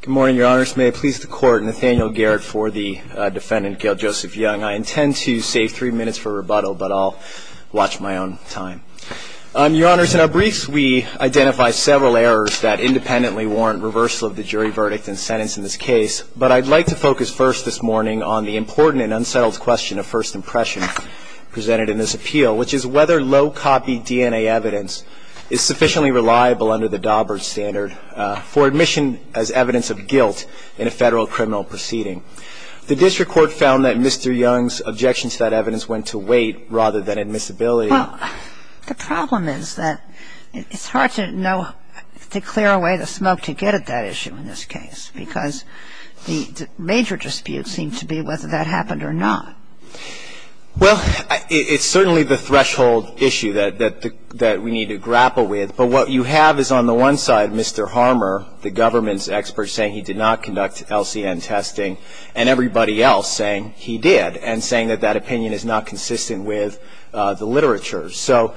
Good morning, your honors. May it please the court, Nathaniel Garrett for the defendant, Gale Joseph Young. I intend to save three minutes for rebuttal, but I'll watch my own time. Your honors, in our briefs we identify several errors that independently warrant reversal of the jury verdict and sentence in this case, but I'd like to focus first this morning on the important and unsettled question of first impression presented in this appeal, which is whether low-copy DNA evidence is sufficiently reliable under the standard for admission as evidence of guilt in a federal criminal proceeding. The district court found that Mr. Young's objection to that evidence went to weight rather than admissibility. Well, the problem is that it's hard to know, to clear away the smoke to get at that issue in this case, because the major dispute seemed to be whether that happened or not. Well, it's certainly the threshold issue that we need to grapple with, but what you have is on the one side, Mr. Harmer, the government's expert saying he did not conduct LCN testing, and everybody else saying he did, and saying that that opinion is not consistent with the literature. So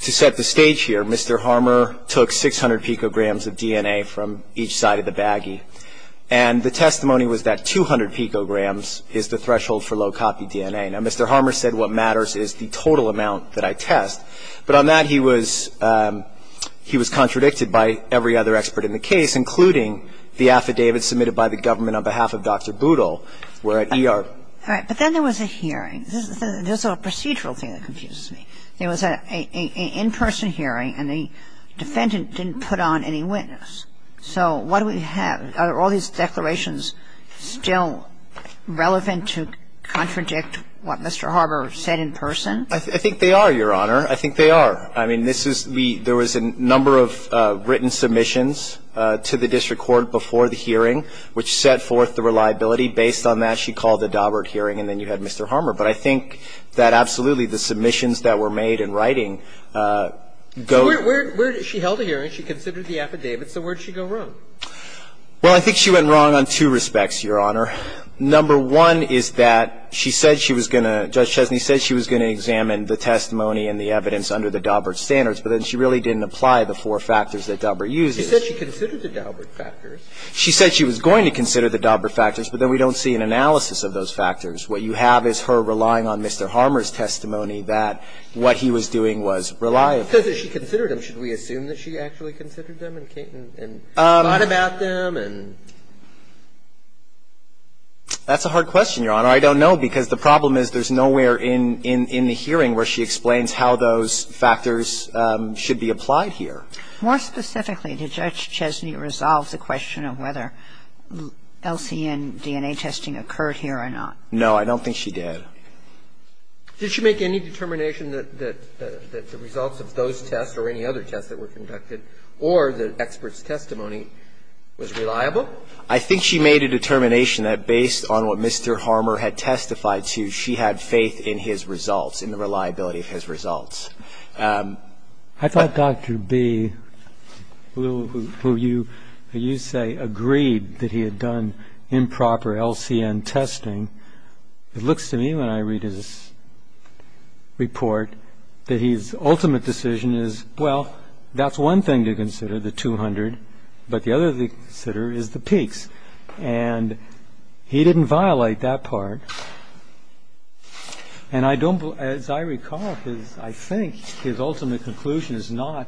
to set the stage here, Mr. Harmer took 600 picograms of DNA from each side of the baggie, and the testimony was that 200 picograms is the threshold for low-copy DNA. Now, Mr. Harmer said what matters is the total amount that I test, but on that day, he was contradicted by every other expert in the case, including the affidavit submitted by the government on behalf of Dr. Boodle, who were at ER. All right. But then there was a hearing. There's a procedural thing that confuses me. There was an in-person hearing, and the defendant didn't put on any witness. So what do we have? Are all these declarations still relevant to contradict what Mr. Harmer said in person? I think they are, Your Honor. I think they are. I mean, this is the – there was a number of written submissions to the district court before the hearing, which set forth the reliability. Based on that, she called the Daubert hearing, and then you had Mr. Harmer. But I think that absolutely the submissions that were made in writing go – So where – where – she held a hearing. She considered the affidavit. So where did she go wrong? Well, I think she went wrong on two respects, Your Honor. Number one is that she said she was going to – Judge Chesney said she was going to examine the testimony and the evidence under the Daubert standards, but then she really didn't apply the four factors that Daubert uses. She said she considered the Daubert factors. She said she was going to consider the Daubert factors, but then we don't see an analysis of those factors. What you have is her relying on Mr. Harmer's testimony that what he was doing was reliable. Because if she considered them, should we assume that she actually considered them and thought about them and – That's a hard question, Your Honor. I don't know, because the problem is there's nowhere in the hearing where she explains how those factors should be applied here. More specifically, did Judge Chesney resolve the question of whether LCN DNA testing occurred here or not? No, I don't think she did. Did she make any determination that the results of those tests or any other tests that were conducted or the expert's testimony was reliable? I think she made a determination that based on what Mr. Harmer had testified to, she had faith in his results, in the reliability of his results. I thought Dr. B, who you say agreed that he had done improper LCN testing, it looks to me when I read his report that his ultimate decision is, well, that's one thing to consider, the 200, but the other thing to consider is the peaks. And he didn't violate that part. And I don't – as I recall, his – I think his ultimate conclusion is not,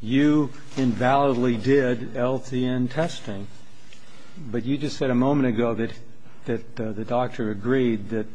you invalidly did LCN testing. But you just said a moment ago that the doctor agreed that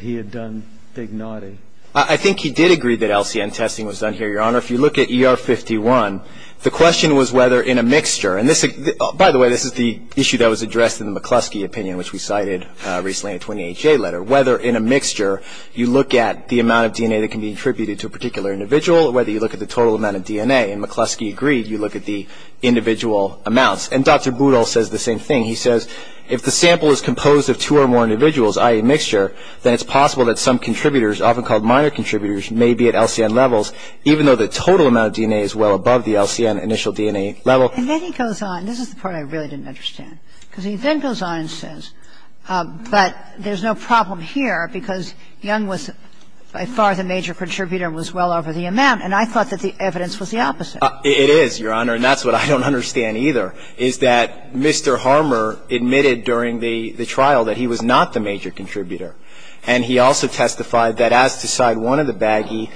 he had done Dignati. I think he did agree that LCN testing was done here, Your Honor. If you look at ER51, the question was whether in a mixture – and this – by the way, this is the issue that was addressed in the McCluskey opinion, which we cited recently in a 28-J letter, whether in a mixture you look at the amount of DNA that can be attributed to a particular individual, whether you look at the total amount of DNA. And McCluskey agreed you look at the individual amounts. And Dr. Boodle says the same thing. He says if the sample is composed of two or more individuals, i.e., mixture, then it's possible that some contributors, often called minor contributors, may be at LCN levels, even though the total amount of DNA is well above the LCN initial DNA level. And then he goes on – this is the part I really didn't understand. Because he then goes on and says, but there's no problem here because Young was by far the major contributor and was well over the amount, and I thought that the evidence was the opposite. It is, Your Honor, and that's what I don't understand either, is that Mr. Harmer admitted during the trial that he was not the major contributor. And he also testified that as to side one of the baggie,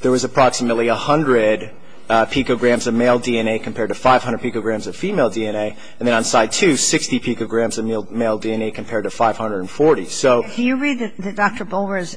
there was approximately 100 picograms of male DNA compared to 500 picograms of female DNA, and then on side two, 60 picograms of male DNA compared to 540. So – Do you read Dr. Bolwer's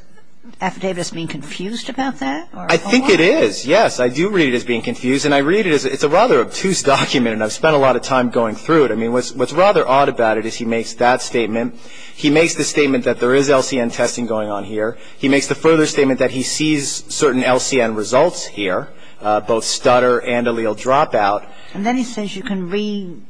affidavit as being confused about that? I think it is, yes. I do read it as being confused. And I read it as – it's a rather obtuse document, and I've spent a lot of time going through it. I mean, what's rather odd about it is he makes that statement. He makes the statement that there is LCN testing going on here. He makes the further statement that he sees certain LCN results here, both stutter and allele dropout. And then he says you can redo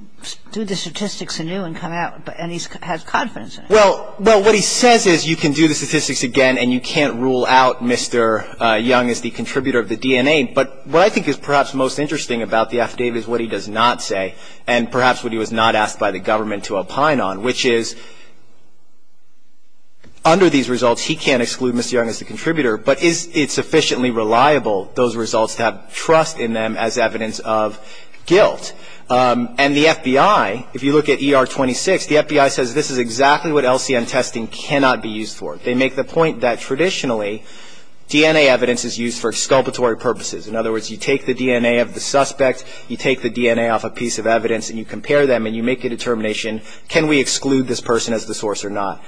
the statistics anew and come out, and he has confidence in it. Well, what he says is you can do the statistics again and you can't rule out Mr. Young as the contributor of the DNA. But what I think is perhaps most interesting about the affidavit is what he does not say, and perhaps what he was not asked by the government to opine on, which is under these results, he can't exclude Mr. Young as the contributor, but is it sufficiently reliable, those results, to have trust in them as evidence of guilt? And the FBI, if you look at ER-26, the FBI says this is exactly what LCN testing cannot be used for. They make the point that traditionally, DNA evidence is used for exculpatory purposes. In other words, you take the DNA of the suspect, you take the DNA off a piece of evidence and you compare them and you make a determination, can we exclude this person as the source or not?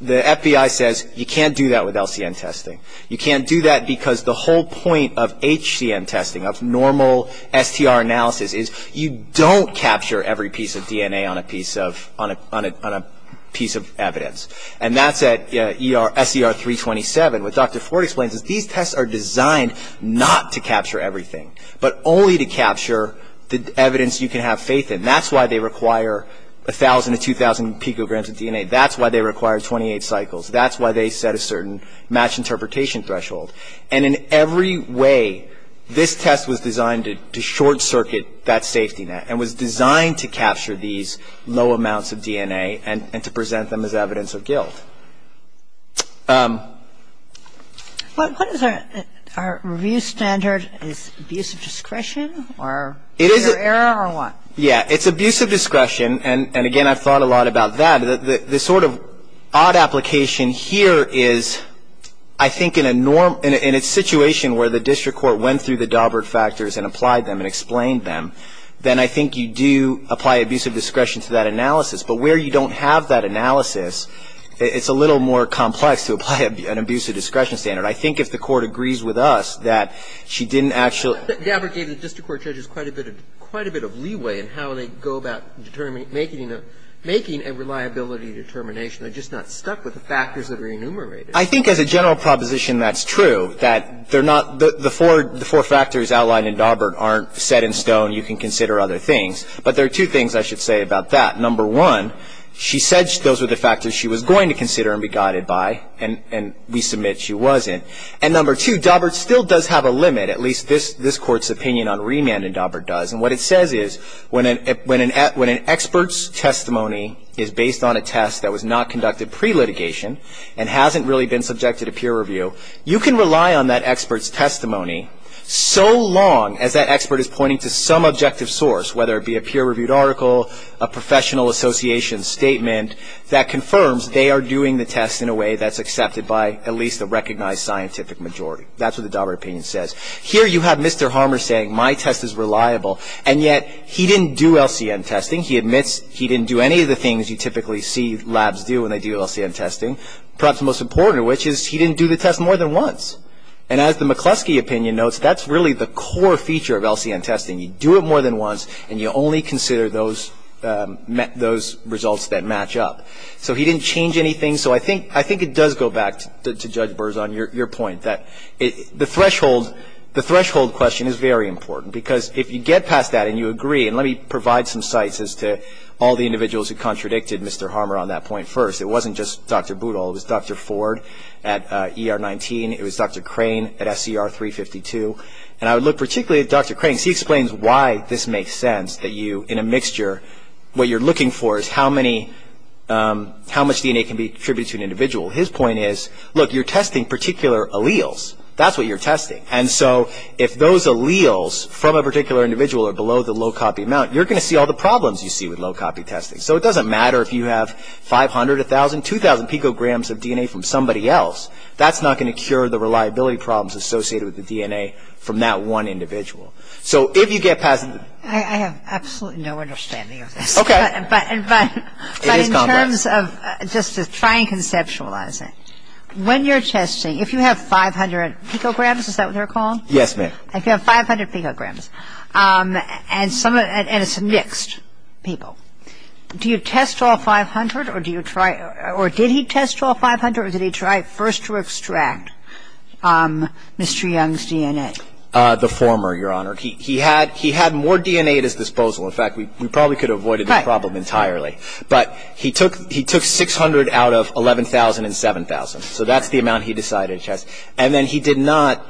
The FBI says you can't do that with LCN testing. You can't do that because the whole point of HCN testing, of normal STR analysis, is you don't capture every piece of DNA on a piece of evidence. And that's at SER-327. What Dr. Ford explains is these tests are designed not to capture everything, but only to capture the evidence you can have faith in. That's why they require 1,000 to 2,000 picograms of DNA. That's why they require 28 cycles. That's why they set a certain match interpretation threshold. And in every way, this test was designed to short-circuit that safety net and was designed to capture these low amounts of DNA and to present them as evidence of guilt. What is our review standard, is it abuse of discretion or error or what? Yeah, it's abuse of discretion and again, I've thought a lot about that. The sort of odd application here is, I think in a situation where the district court went through the Daubert factors and applied them and explained them, then I think you do apply abuse of discretion to that analysis. But where you don't have that analysis, it's a little more complex to apply an abuse of discretion standard. I think if the Court agrees with us that she didn't actually I think Daubert gave the district court judges quite a bit of leeway in how they go about making a reliability determination. They're just not stuck with the factors that are enumerated. I think as a general proposition that's true, that the four factors outlined in Daubert aren't set in stone, you can consider other things. But there are two things I should say about that. Number one, she said those were the factors she was going to consider and be guided by and we submit she wasn't. And number two, Daubert still does have a limit, at least this Court's opinion on remand in Daubert does. And what it says is, when an expert's testimony is based on a test that was not conducted pre-litigation and hasn't really been subjected to peer review, you can rely on that expert's testimony so long as that expert is pointing to some objective source, whether it be a peer-reviewed article, a professional association statement, that confirms they are doing the test in a way that's accepted by at least a recognized scientific majority. That's what the Daubert opinion says. Here you have Mr. Harmer saying my test is reliable and yet he didn't do LCN testing. He admits he didn't do any of the things you typically see labs do when they do LCN testing. Perhaps most important of which is he didn't do the test more than once. And as the McCluskey opinion notes, that's really the core feature of LCN testing. You do it more than once and you only consider those results that match up. So he didn't change anything. So I think it does go back to Judge Berzon, your point that the threshold question is very important. Because if you get past that and you agree, and let me provide some sites as to all the individuals who contradicted Mr. Harmer on that point first. It wasn't just Dr. Boodle, it was Dr. Ford at ER19, it was Dr. Crane at SCR352, and I would look particularly at Dr. Crane. He explains why this makes sense that you, in a mixture, what you're looking for is how many, how much DNA can be attributed to an individual. His point is, look, you're testing particular alleles. That's what you're testing. And so if those alleles from a particular individual are below the low-copy amount, you're going to see all the problems you see with low-copy testing. So it doesn't matter if you have 500, 1,000, 2,000 picograms of DNA from somebody else. That's not going to cure the reliability problems associated with the DNA from that one individual. So if you get past... I have absolutely no understanding of this. Okay. But in terms of, just to try and conceptualize it. When you're testing, if you have 500 picograms, is that what they're called? Yes, ma'am. If you have 500 picograms, and it's mixed people, do you test all 500, or did he test all 500, or did he try first to extract Mr. Young's DNA? The former, Your Honor. He had more DNA at his disposal. In fact, we probably could have avoided the problem entirely. But he took 600 out of 11,000 and 7,000. So that's the amount he decided to test. And then he did not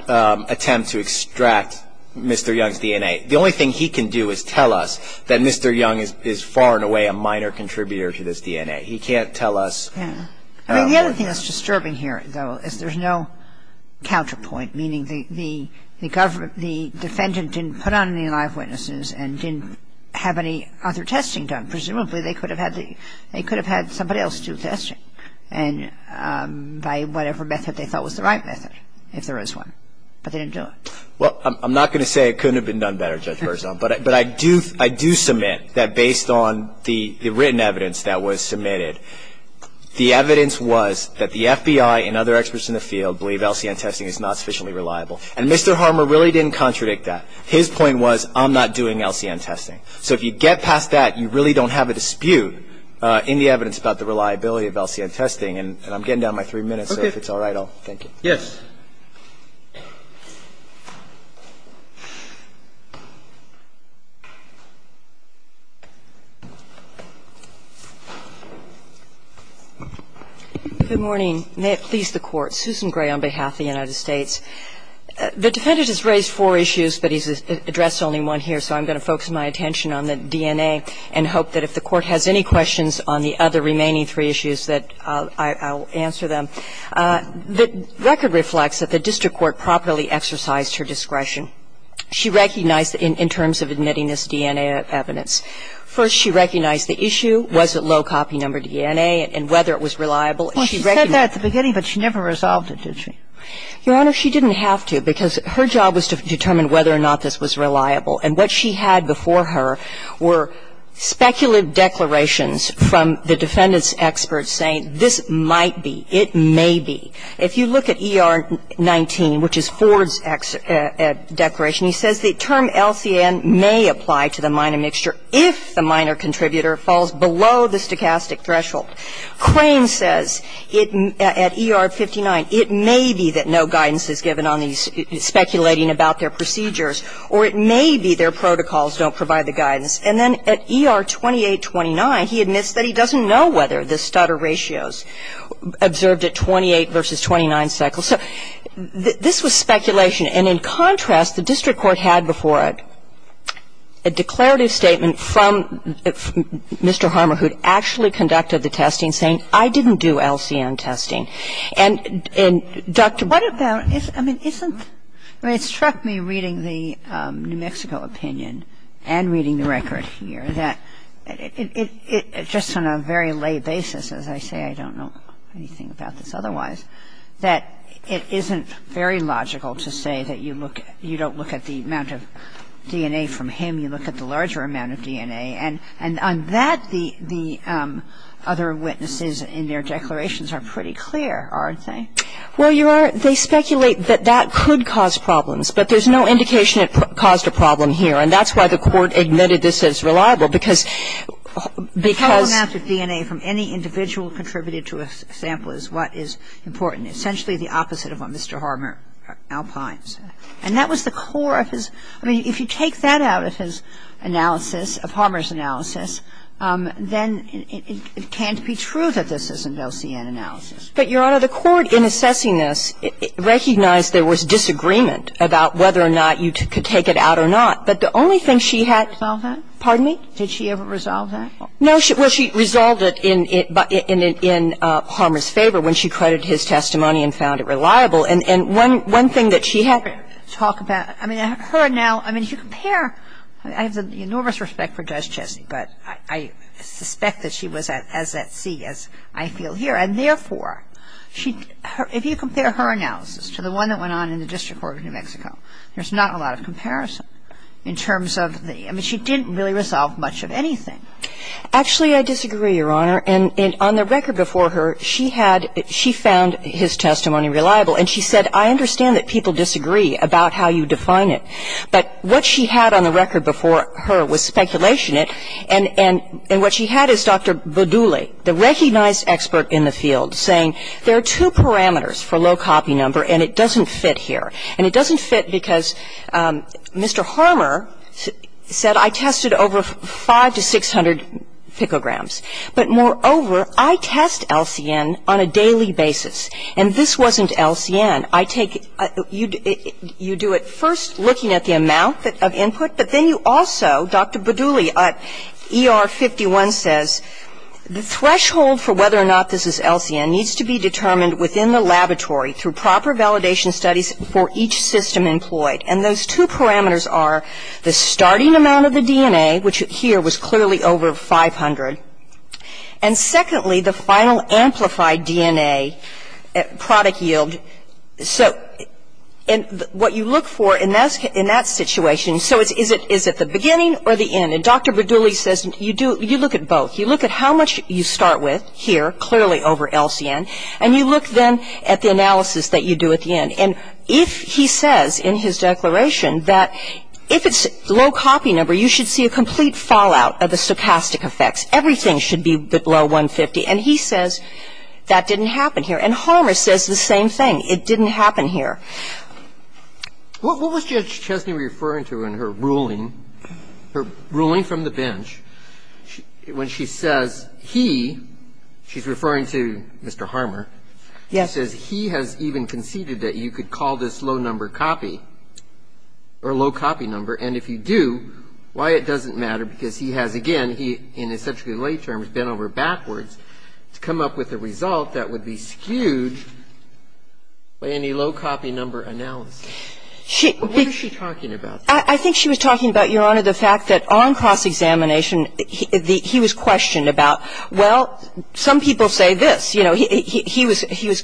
attempt to extract Mr. Young's DNA. The only thing he can do is tell us that Mr. Young is far and away a minor contributor to this DNA. He can't tell us... I mean, the other thing that's disturbing here, though, is there's no counterpoint, meaning the defendant didn't put on any live witnesses and didn't have any other testing done. And presumably, they could have had somebody else do testing by whatever method they thought was the right method, if there is one, but they didn't do it. Well, I'm not going to say it couldn't have been done better, Judge Berzon, but I do submit that based on the written evidence that was submitted, the evidence was that the FBI and other experts in the field believe LCN testing is not sufficiently reliable. And Mr. Harmer really didn't contradict that. His point was, I'm not doing LCN testing. So if you get past that, you really don't have a dispute in the evidence about the reliability of LCN testing. And I'm getting down my three minutes, so if it's all right, I'll thank you. Yes. Good morning. May it please the Court. Susan Gray on behalf of the United States. The defendant has raised four issues, but he's addressed only one here, so I'm going to focus my attention on the DNA and hope that if the Court has any questions on the other remaining three issues that I'll answer them. The record reflects that the district court properly exercised her discretion. She recognized in terms of admitting this DNA evidence, first, she recognized the issue, was it low copy number DNA, and whether it was reliable. She recognized that. Well, she said that at the beginning, but she never resolved it, did she? Your Honor, she didn't have to, because her job was to determine whether or not this was reliable. And what she had before her were speculative declarations from the defendant's experts saying this might be, it may be. If you look at ER 19, which is Ford's declaration, he says the term LCN may apply to the minor mixture if the minor contributor falls below the stochastic threshold. Crane says at ER 59, it may be that no guidance is given on these speculating about their procedures, or it may be their protocols don't provide the guidance. And then at ER 2829, he admits that he doesn't know whether the stutter ratios observed at 28 versus 29 cycles. So this was speculation. And in contrast, the district court had before it a declarative statement from Mr. Harmer, who'd actually conducted the testing, saying I didn't do LCN testing. And Dr. Brown ---- I mean, isn't ---- I mean, it struck me reading the New Mexico opinion and reading the record here that it, just on a very lay basis, as I say, I don't know anything about this otherwise, that it isn't very logical to say that you look, you don't look at the amount of DNA from him. You look at the larger amount of DNA. And on that, the other witnesses in their declarations are pretty clear, aren't they? Well, Your Honor, they speculate that that could cause problems. But there's no indication it caused a problem here. And that's why the court admitted this is reliable, because ---- Because the total amount of DNA from any individual contributed to a sample is what is important, essentially the opposite of what Mr. Harmer, Alpine, said. And that was the core of his ---- I mean, if you take that out of his analysis, of Harmer's analysis, then it can't be true that this isn't LCN analysis. But, Your Honor, the court, in assessing this, recognized there was disagreement about whether or not you could take it out or not. But the only thing she had ---- Resolved that? Pardon me? Did she ever resolve that? No. Well, she resolved it in Harmer's favor when she credited his testimony and found it reliable. And one thing that she had ---- Talk about ---- I mean, her now ---- I mean, if you compare ---- I have the enormous respect for Judge Chessie, but I suspect that she was as at sea as I feel here. And, therefore, she ---- if you compare her analysis to the one that went on in the District Court of New Mexico, there's not a lot of comparison in terms of the ---- I mean, she didn't really resolve much of anything. Actually, I disagree, Your Honor. And on the record before her, she had ---- she found his testimony reliable. And she said, I understand that people disagree about how you define it. But what she had on the record before her was speculation. And what she had is Dr. Badouli, the recognized expert in the field, saying there are two parameters for low copy number, and it doesn't fit here. And it doesn't fit because Mr. Harmer said, I tested over 500 to 600 picograms. But, moreover, I test LCN on a daily basis. And this wasn't LCN. I take ---- you do it first looking at the amount of input, but then you also, Dr. Badouli, ER51 says, the threshold for whether or not this is LCN needs to be determined within the laboratory through proper validation studies for each system employed. And those two parameters are the starting amount of the DNA, which here was clearly over 500, and secondly, the final amplified DNA product yield. So what you look for in that situation, so is it the beginning or the end? And Dr. Badouli says, you do ---- you look at both. You look at how much you start with here, clearly over LCN, and you look then at the analysis that you do at the end. And if he says in his declaration that if it's low copy number, you should see a complete fallout of the stochastic effects. Everything should be below 150. And he says that didn't happen here. And Harmer says the same thing. It didn't happen here. What was Judge Chesney referring to in her ruling, her ruling from the bench, when she says he, she's referring to Mr. Harmer, she says he has even conceded that you could call this low number copy or low copy number. And if you do, why it doesn't matter because he has, again, he in essentially late terms has been over backwards to come up with a result that would be skewed by any low copy number analysis. What is she talking about? I think she was talking about, Your Honor, the fact that on cross-examination he was questioned about, well, some people say this. You know, he was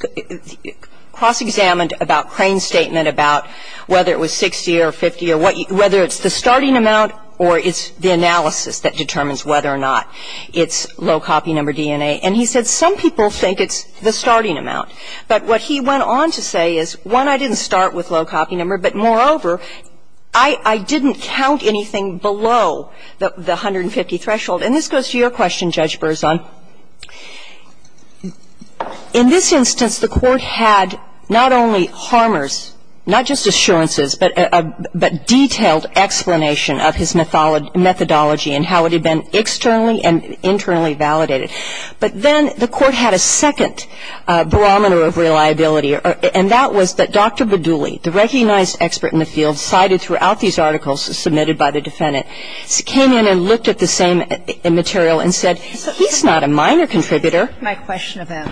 cross-examined about Crane's statement about whether it was 60 or 50 or what you ---- whether it's the starting amount or it's the analysis that determines whether or not it's low copy number DNA. And he said some people think it's the starting amount. But what he went on to say is, one, I didn't start with low copy number, but, moreover, I didn't count anything below the 150 threshold. And this goes to your question, Judge Berzon. In this instance, the Court had not only Harmer's, not just assurances, but a detailed explanation of his methodology and how it had been externally and internally validated. But then the Court had a second barometer of reliability, and that was that Dr. Badouli, the recognized expert in the field cited throughout these articles submitted by the defendant, came in and looked at the same material and said, he's not a minor contributor. My question about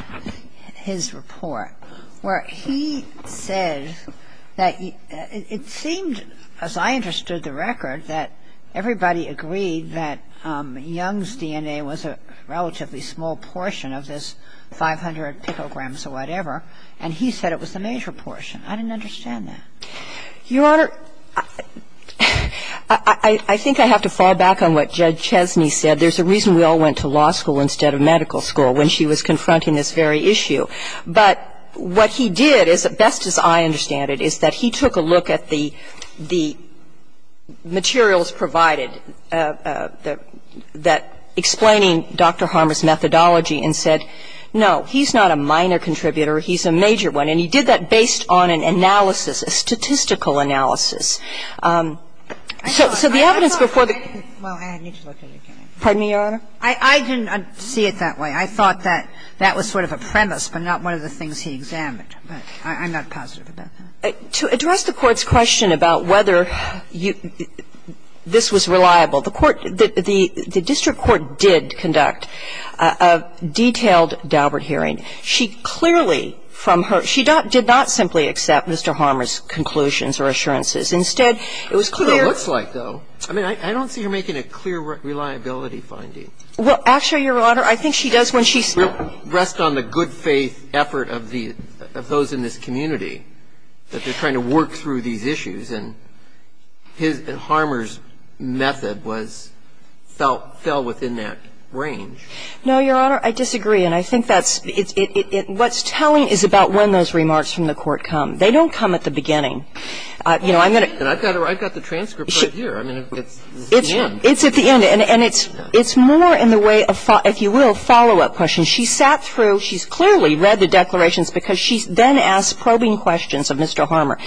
his report, where he said that it seemed, as I understood the record, that everybody agreed that Young's DNA was a relatively small portion of this 500 picograms or whatever, and he said it was the major portion. I didn't understand that. Your Honor, I think I have to fall back on what Judge Chesney said. There's a reason we all went to law school instead of medical school when she was confronting this very issue. But what he did is, as best as I understand it, is that he took a look at the materials provided that explaining Dr. Harmer's methodology and said, no, he's not a minor contributor, he's a major one. And he did that based on an analysis, a statistical analysis. So the evidence before the case was that he was a minor contributor, and he was a major contributor. And I'm not one of the things he examined, but I'm not positive about that. To address the Court's question about whether you – this was reliable, the court – the district court did conduct a detailed Daubert hearing. She clearly, from her – she did not simply accept Mr. Harmer's conclusions or assurances. Instead, it was clear – That's what it looks like, though. I mean, I don't see her making a clear reliability finding. Well, actually, Your Honor, I think she does when she's – I don't see her making a clear reliability finding. And if you rest on the good faith effort of the – of those in this community, that they're trying to work through these issues, and his – and Harmer's method was – fell within that range. No, Your Honor, I disagree. And I think that's – it's – it – it – what's telling is about when those She sat through – she's clearly read the declarations because she's then asked probing questions of Mr. Harmer.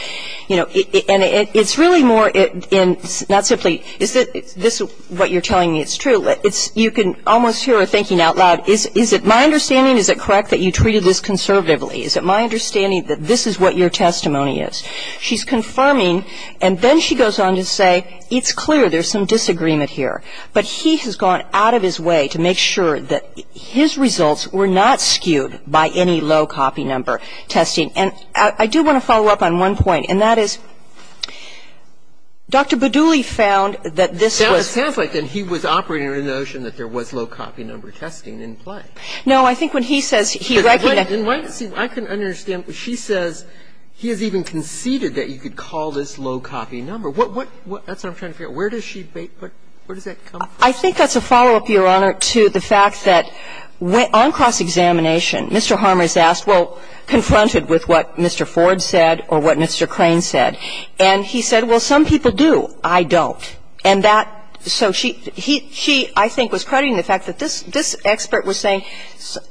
You know, and it – it's really more in – not simply, is it – is this what you're telling me is true? It's – you can almost hear her thinking out loud, is – is it my understanding, is it correct that you treated this conservatively? Is it my understanding that this is what your testimony is? She's confirming, and then she goes on to say, it's clear there's some disagreement here. But he has gone out of his way to make sure that his results were not skewed by any low copy number testing. And I do want to follow up on one point, and that is, Dr. Badouli found that this was – It sounds like then he was operating under the notion that there was low copy number testing in play. No, I think when he says he – In my – in my – see, I couldn't understand. She says he has even conceded that you could call this low copy number. What – what – that's what I'm trying to figure out. Where does she – where does that come from? I think that's a follow-up, Your Honor, to the fact that on cross-examination, Mr. Harmer's asked, well, confronted with what Mr. Ford said or what Mr. Crane said. And he said, well, some people do, I don't. And that – so she – he – she, I think, was crediting the fact that this – this expert was saying,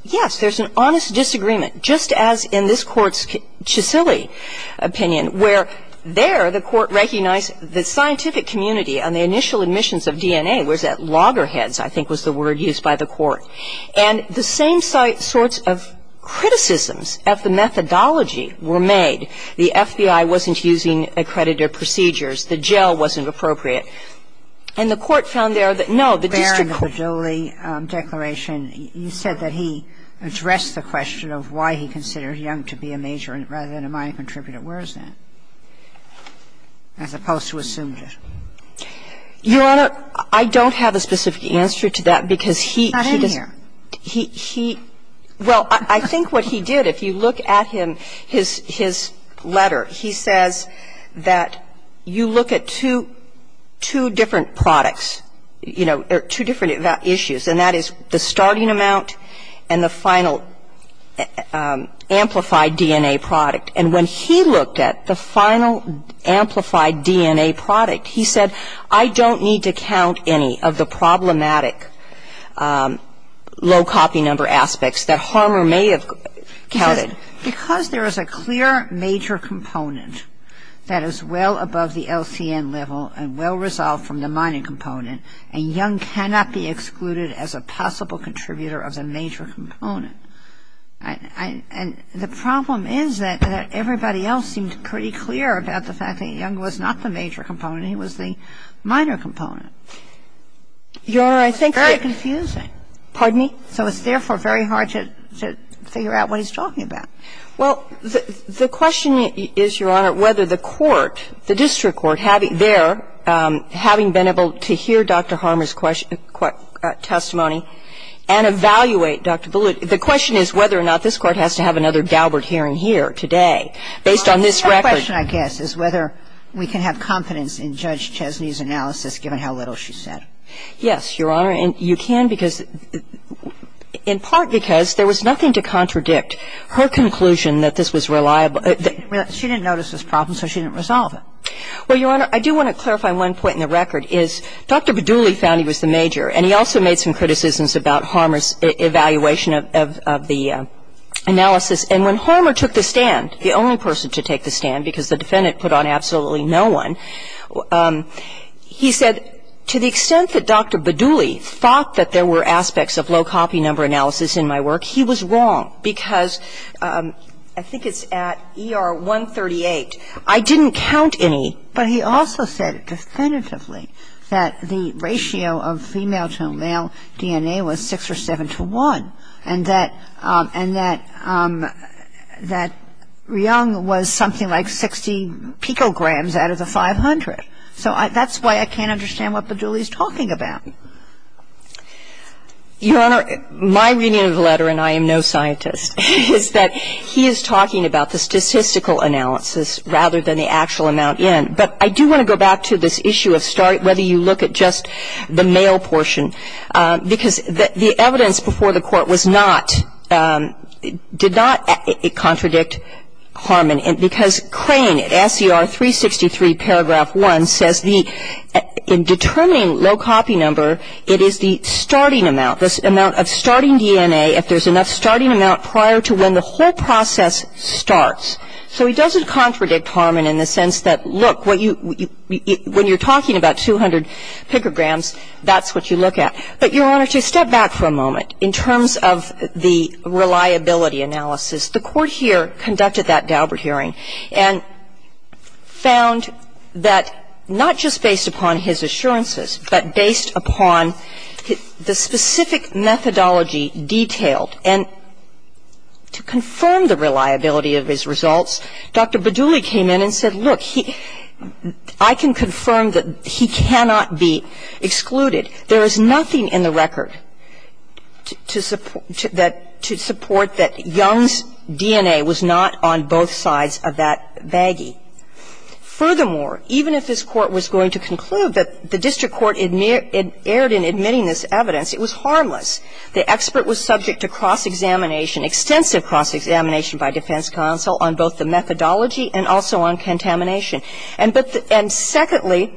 yes, there's an honest disagreement, just as in this Court's And the same sort of criticisms of the methodology were made. The FBI wasn't using accredited procedures. The jail wasn't appropriate. And the Court found there that, no, the district court – Barron, the Badouli declaration, you said that he addressed the question of why he considered Young to be a major rather than a minor contributor. Where is that, as opposed to assumed it? Your Honor, I don't have a specific answer to that because he – he does – It's not in here. He – he – well, I think what he did, if you look at him, his – his letter, he says that you look at two – two different products, you know, or two different issues, and that is the starting amount and the final amplified DNA product. And when he looked at the final amplified DNA product, he said, I don't need to count any of the problematic low copy number aspects that Harmer may have counted. Because there is a clear major component that is well above the LCN level and well resolved from the mining component, and Young cannot be excluded as a possible contributor of the major component. And the problem is that everybody else seemed pretty clear about the fact that Young was not the major component, he was the minor component. Your Honor, I think it's very confusing, so it's therefore very hard to – to figure out what he's talking about. Well, the question is, Your Honor, whether the court, the district court, having been there, having been able to hear Dr. Harmer's testimony and evaluate Dr. Boulid, the question is whether or not this court has to have another Galbert hearing here today, based on this record. Well, the question, I guess, is whether we can have confidence in Judge Chesney's analysis, given how little she's said. Yes, Your Honor, and you can because – in part because there was nothing to contradict her conclusion that this was reliable. She didn't notice this problem, so she didn't resolve it. Well, Your Honor, I do want to clarify one point in the record, is Dr. Boulid found he was the major, and he also made some criticisms about Harmer's evaluation of the analysis, and when Harmer took the stand, the only person to take the stand because the defendant put on absolutely no one, he said, to the extent that Dr. Badouli thought that there were aspects of low copy number analysis in my work, he was wrong because, I think it's at ER 138, I didn't count any. But he also said definitively that the ratio of female to male DNA was 6 or 7 to 1. And that – and that Ryung was something like 60 picograms out of the 500. So that's why I can't understand what Badouli is talking about. Your Honor, my reading of the letter, and I am no scientist, is that he is talking about the statistical analysis rather than the actual amount in. But I do want to go back to this issue of whether you look at just the male portion, because the evidence before the court was not – did not contradict Harman. And because Crane at SCR 363, paragraph 1, says the – in determining low copy number, it is the starting amount, the amount of starting DNA, if there's enough starting amount prior to when the whole process starts. So he doesn't contradict Harman in the sense that, look, what you – when you're talking about 200 picograms, that's what you look at. But, Your Honor, to step back for a moment in terms of the reliability analysis, the court here conducted that Daubert hearing and found that not just based upon his assurances, but based upon the specific methodology detailed. And to confirm the reliability of his results, Dr. Badouli came in and said, look, I can confirm that he cannot be excluded. There is nothing in the record to support that Young's DNA was not on both sides of that baggie. Furthermore, even if this Court was going to conclude that the district court erred in admitting this evidence, it was harmless. The expert was subject to cross-examination, extensive cross-examination by defense counsel on both the methodology and also on contamination. And secondly,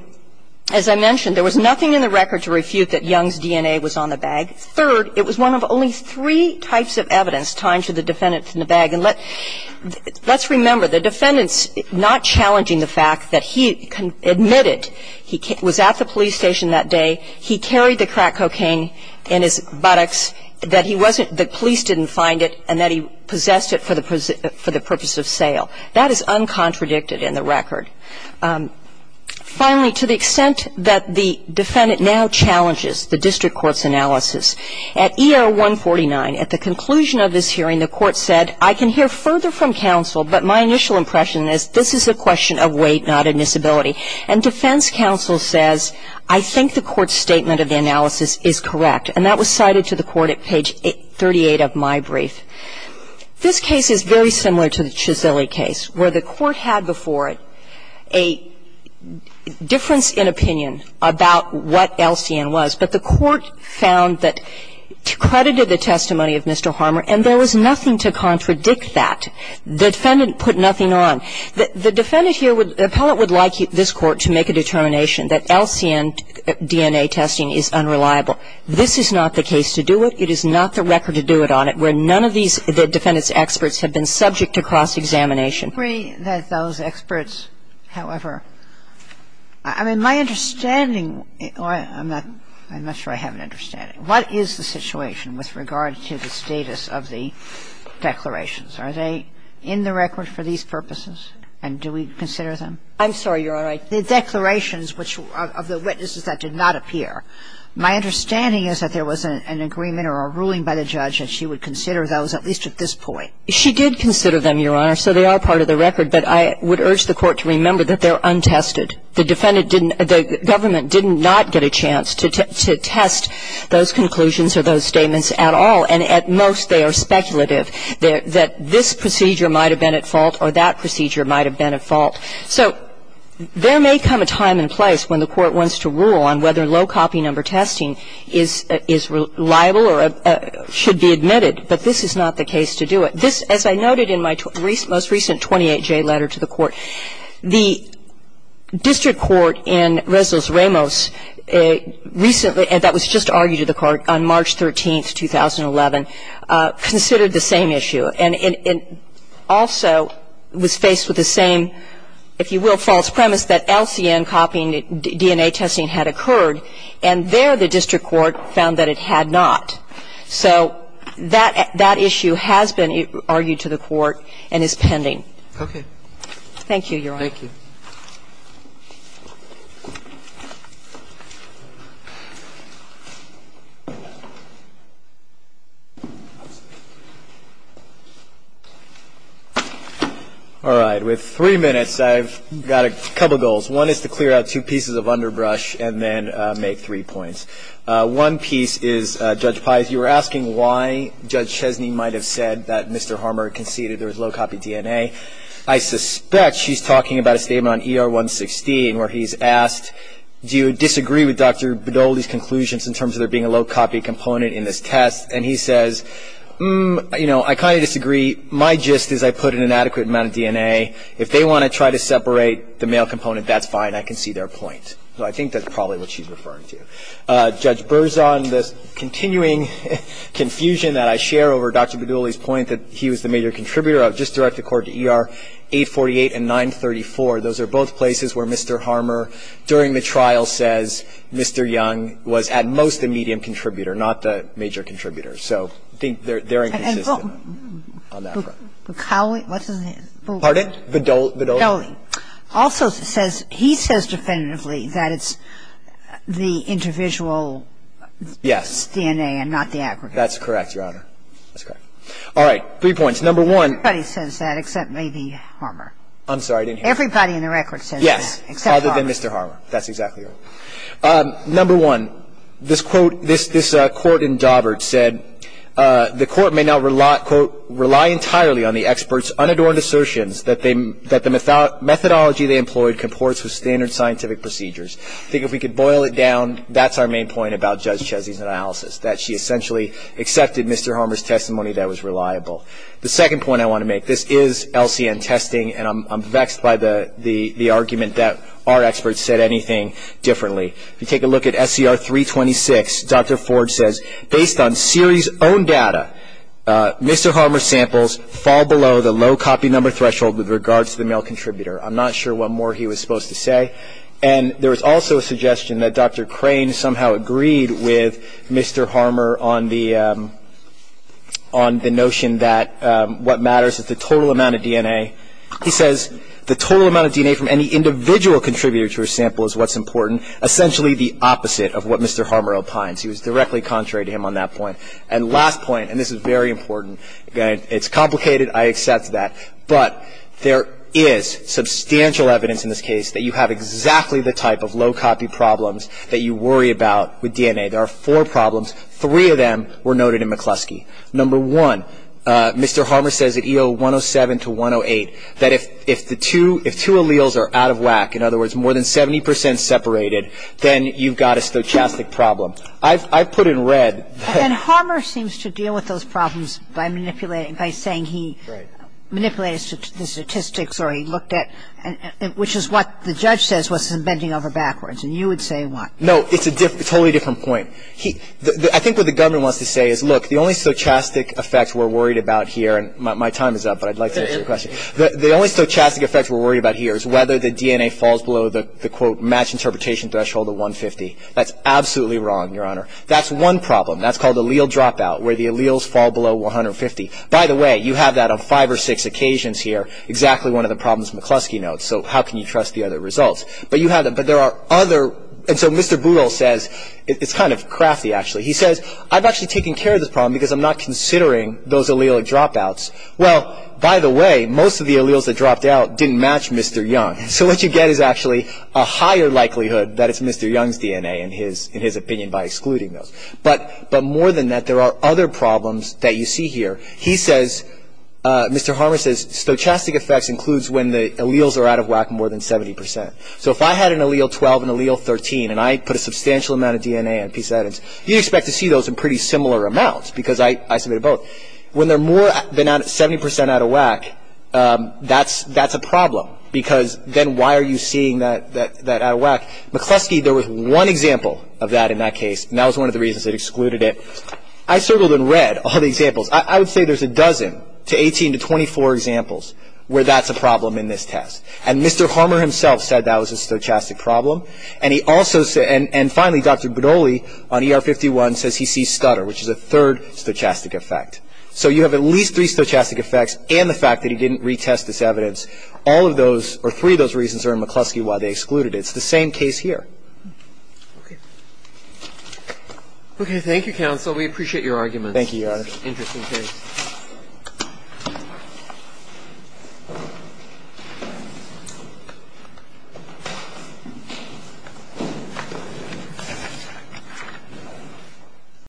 as I mentioned, there was nothing in the record to refute that Young's DNA was on the bag. Third, it was one of only three types of evidence tied to the defendant in the bag. And let's remember, the defendant's not challenging the fact that he admitted he was at the police station that day, he carried the crack cocaine in his buttocks, that he wasn't – the police didn't find it, and that he possessed it for the purpose of sale. That is uncontradicted in the record. Finally, to the extent that the defendant now challenges the district court's analysis, at ER 149, at the conclusion of this hearing, the court said, I can hear further from counsel, but my initial impression is this is a question of weight, not admissibility. And defense counsel says, I think the court's statement of the analysis is correct. And that was cited to the court at page 38 of my brief. This case is very similar to the Chiseli case, where the court had before it a difference in opinion about what LCN was, but the court found that it credited the testimony of Mr. Harmer, and there was nothing to contradict that. The defendant put nothing on. The defendant here would – the appellate would like this Court to make a determination that LCN DNA testing is unreliable. This is not the case to do it. It is not the record to do it on it, where none of these defendants' experts have been subject to cross-examination. Kagan. I agree that those experts, however – I mean, my understanding – I'm not sure I have an understanding. What is the situation with regard to the status of the declarations? Are they in the record for these purposes, and do we consider them? I'm sorry. You're all right. The declarations which – of the witnesses that did not appear. My understanding is that there was an agreement or a ruling by the judge that she would consider those, at least at this point. She did consider them, Your Honor, so they are part of the record, but I would urge the Court to remember that they're untested. The defendant didn't – the government did not get a chance to test those conclusions or those statements at all, and at most, they are speculative, that this procedure might have been at fault or that procedure might have been at fault. So there may come a time and place when the Court wants to rule on whether low-copy number testing is reliable or should be admitted, but this is not the case to do it. This – as I noted in my most recent 28J letter to the Court, the district court in Resolus Ramos recently – that was just argued to the Court on March 13, 2011 – considered the same issue and also was faced with the same, if you will, false premise that LCN DNA testing had occurred, and there the district court found that it had not. So that – that issue has been argued to the Court and is pending. Okay. Thank you, Your Honor. Thank you. All right. With three minutes, I've got a couple goals. One is to clear out two pieces of underbrush and then make three points. One piece is, Judge Pais, you were asking why Judge Chesney might have said that Mr. Harmer conceded there was low-copy DNA. I suspect she's talking about a statement on ER 116 where he's asked, do you disagree with Dr. Badoli's conclusions in terms of there being a low-copy component in this test? And he says, you know, I kind of disagree. My gist is I put in an adequate amount of DNA. If they want to try to separate the male component, that's fine. I can see their point. So I think that's probably what she's referring to. Judge Berzon, the continuing confusion that I share over Dr. Badoli's point that he was the major contributor, I'll just direct the Court to ER 848 and 934. Those are both places where Mr. Harmer, during the trial, says Mr. Young was at most the major contributor. So I think they're inconsistent on that front. And how do we – what's his name? Pardon? Badoli. Badoli also says – he says definitively that it's the individual's DNA and not the aggregate. That's correct, Your Honor. That's correct. All right. Three points. Number one – Everybody says that except maybe Harmer. I'm sorry. I didn't hear you. Everybody in the record says that, except Harmer. Yes, other than Mr. Harmer. That's exactly right. Number one, this quote – this court in Daubert said the court may not, quote, rely entirely on the expert's unadorned assertions that the methodology they employed comports with standard scientific procedures. I think if we could boil it down, that's our main point about Judge Chesey's analysis, that she essentially accepted Mr. Harmer's testimony that was reliable. The second point I want to make – this is LCN testing, and I'm vexed by the argument that our experts said anything differently. If you take a look at SCR 326, Dr. Ford says, based on series-owned data, Mr. Harmer's samples fall below the low copy number threshold with regards to the male contributor. I'm not sure what more he was supposed to say. And there was also a suggestion that Dr. Crane somehow agreed with Mr. Harmer on the notion that what matters is the total amount of DNA. He says the total amount of DNA from any individual contributor to a sample is what's important, essentially the opposite of what Mr. Harmer opines. He was directly contrary to him on that point. And last point, and this is very important, it's complicated, I accept that, but there is substantial evidence in this case that you have exactly the type of low copy problems that you worry about with DNA. There are four problems. Three of them were noted in McCluskey. Number one, Mr. Harmer says at EO 107 to 108 that if two alleles are out of whack, in other words, more than 70 percent separated, then you've got a stochastic problem. I've put in red that... And Harmer seems to deal with those problems by manipulating, by saying he manipulated the statistics or he looked at, which is what the judge says was bending over backwards, and you would say what? No, it's a totally different point. I think what the government wants to say is, look, the only stochastic effect we're worried about here, and my time is up, but I'd like to answer your question, the only stochastic effect we're worried about here is whether the DNA falls below the, quote, match interpretation threshold of 150. That's absolutely wrong, Your Honor. That's one problem. That's called allele dropout, where the alleles fall below 150. By the way, you have that on five or six occasions here. Exactly one of the problems McCluskey notes, so how can you trust the other results? But you have them, but there are other... And so Mr. Boodle says, it's kind of crafty, actually. He says, I've actually taken care of this problem because I'm not considering those allelic dropouts. Well, by the way, most of the alleles that dropped out didn't match Mr. Young, so what you get is actually a higher likelihood that it's Mr. Young's DNA in his opinion by excluding those. But more than that, there are other problems that you see here. He says, Mr. Harmer says, stochastic effects includes when the alleles are out of whack more than 70 percent. So if I had an allele 12, an allele 13, and I put a substantial amount of DNA on a piece of evidence, you'd expect to see those in pretty similar amounts, because I submitted both. When they're more than 70 percent out of whack, that's a problem, because then why are you seeing that out of whack? McCluskey, there was one example of that in that case, and that was one of the reasons it excluded it. I circled in red all the examples. I would say there's a dozen to 18 to 24 examples where that's a problem in this test. And Mr. Harmer himself said that was a stochastic problem. And he also said, and finally, Dr. Budoli on ER51 says he sees Scudder, which is a third stochastic effect. So you have at least three stochastic effects and the fact that he didn't retest this evidence. All of those, or three of those reasons are in McCluskey why they excluded it. It's the same case here. Okay, thank you, counsel. We appreciate your argument. Thank you, Your Honor. Interesting case. Thank you.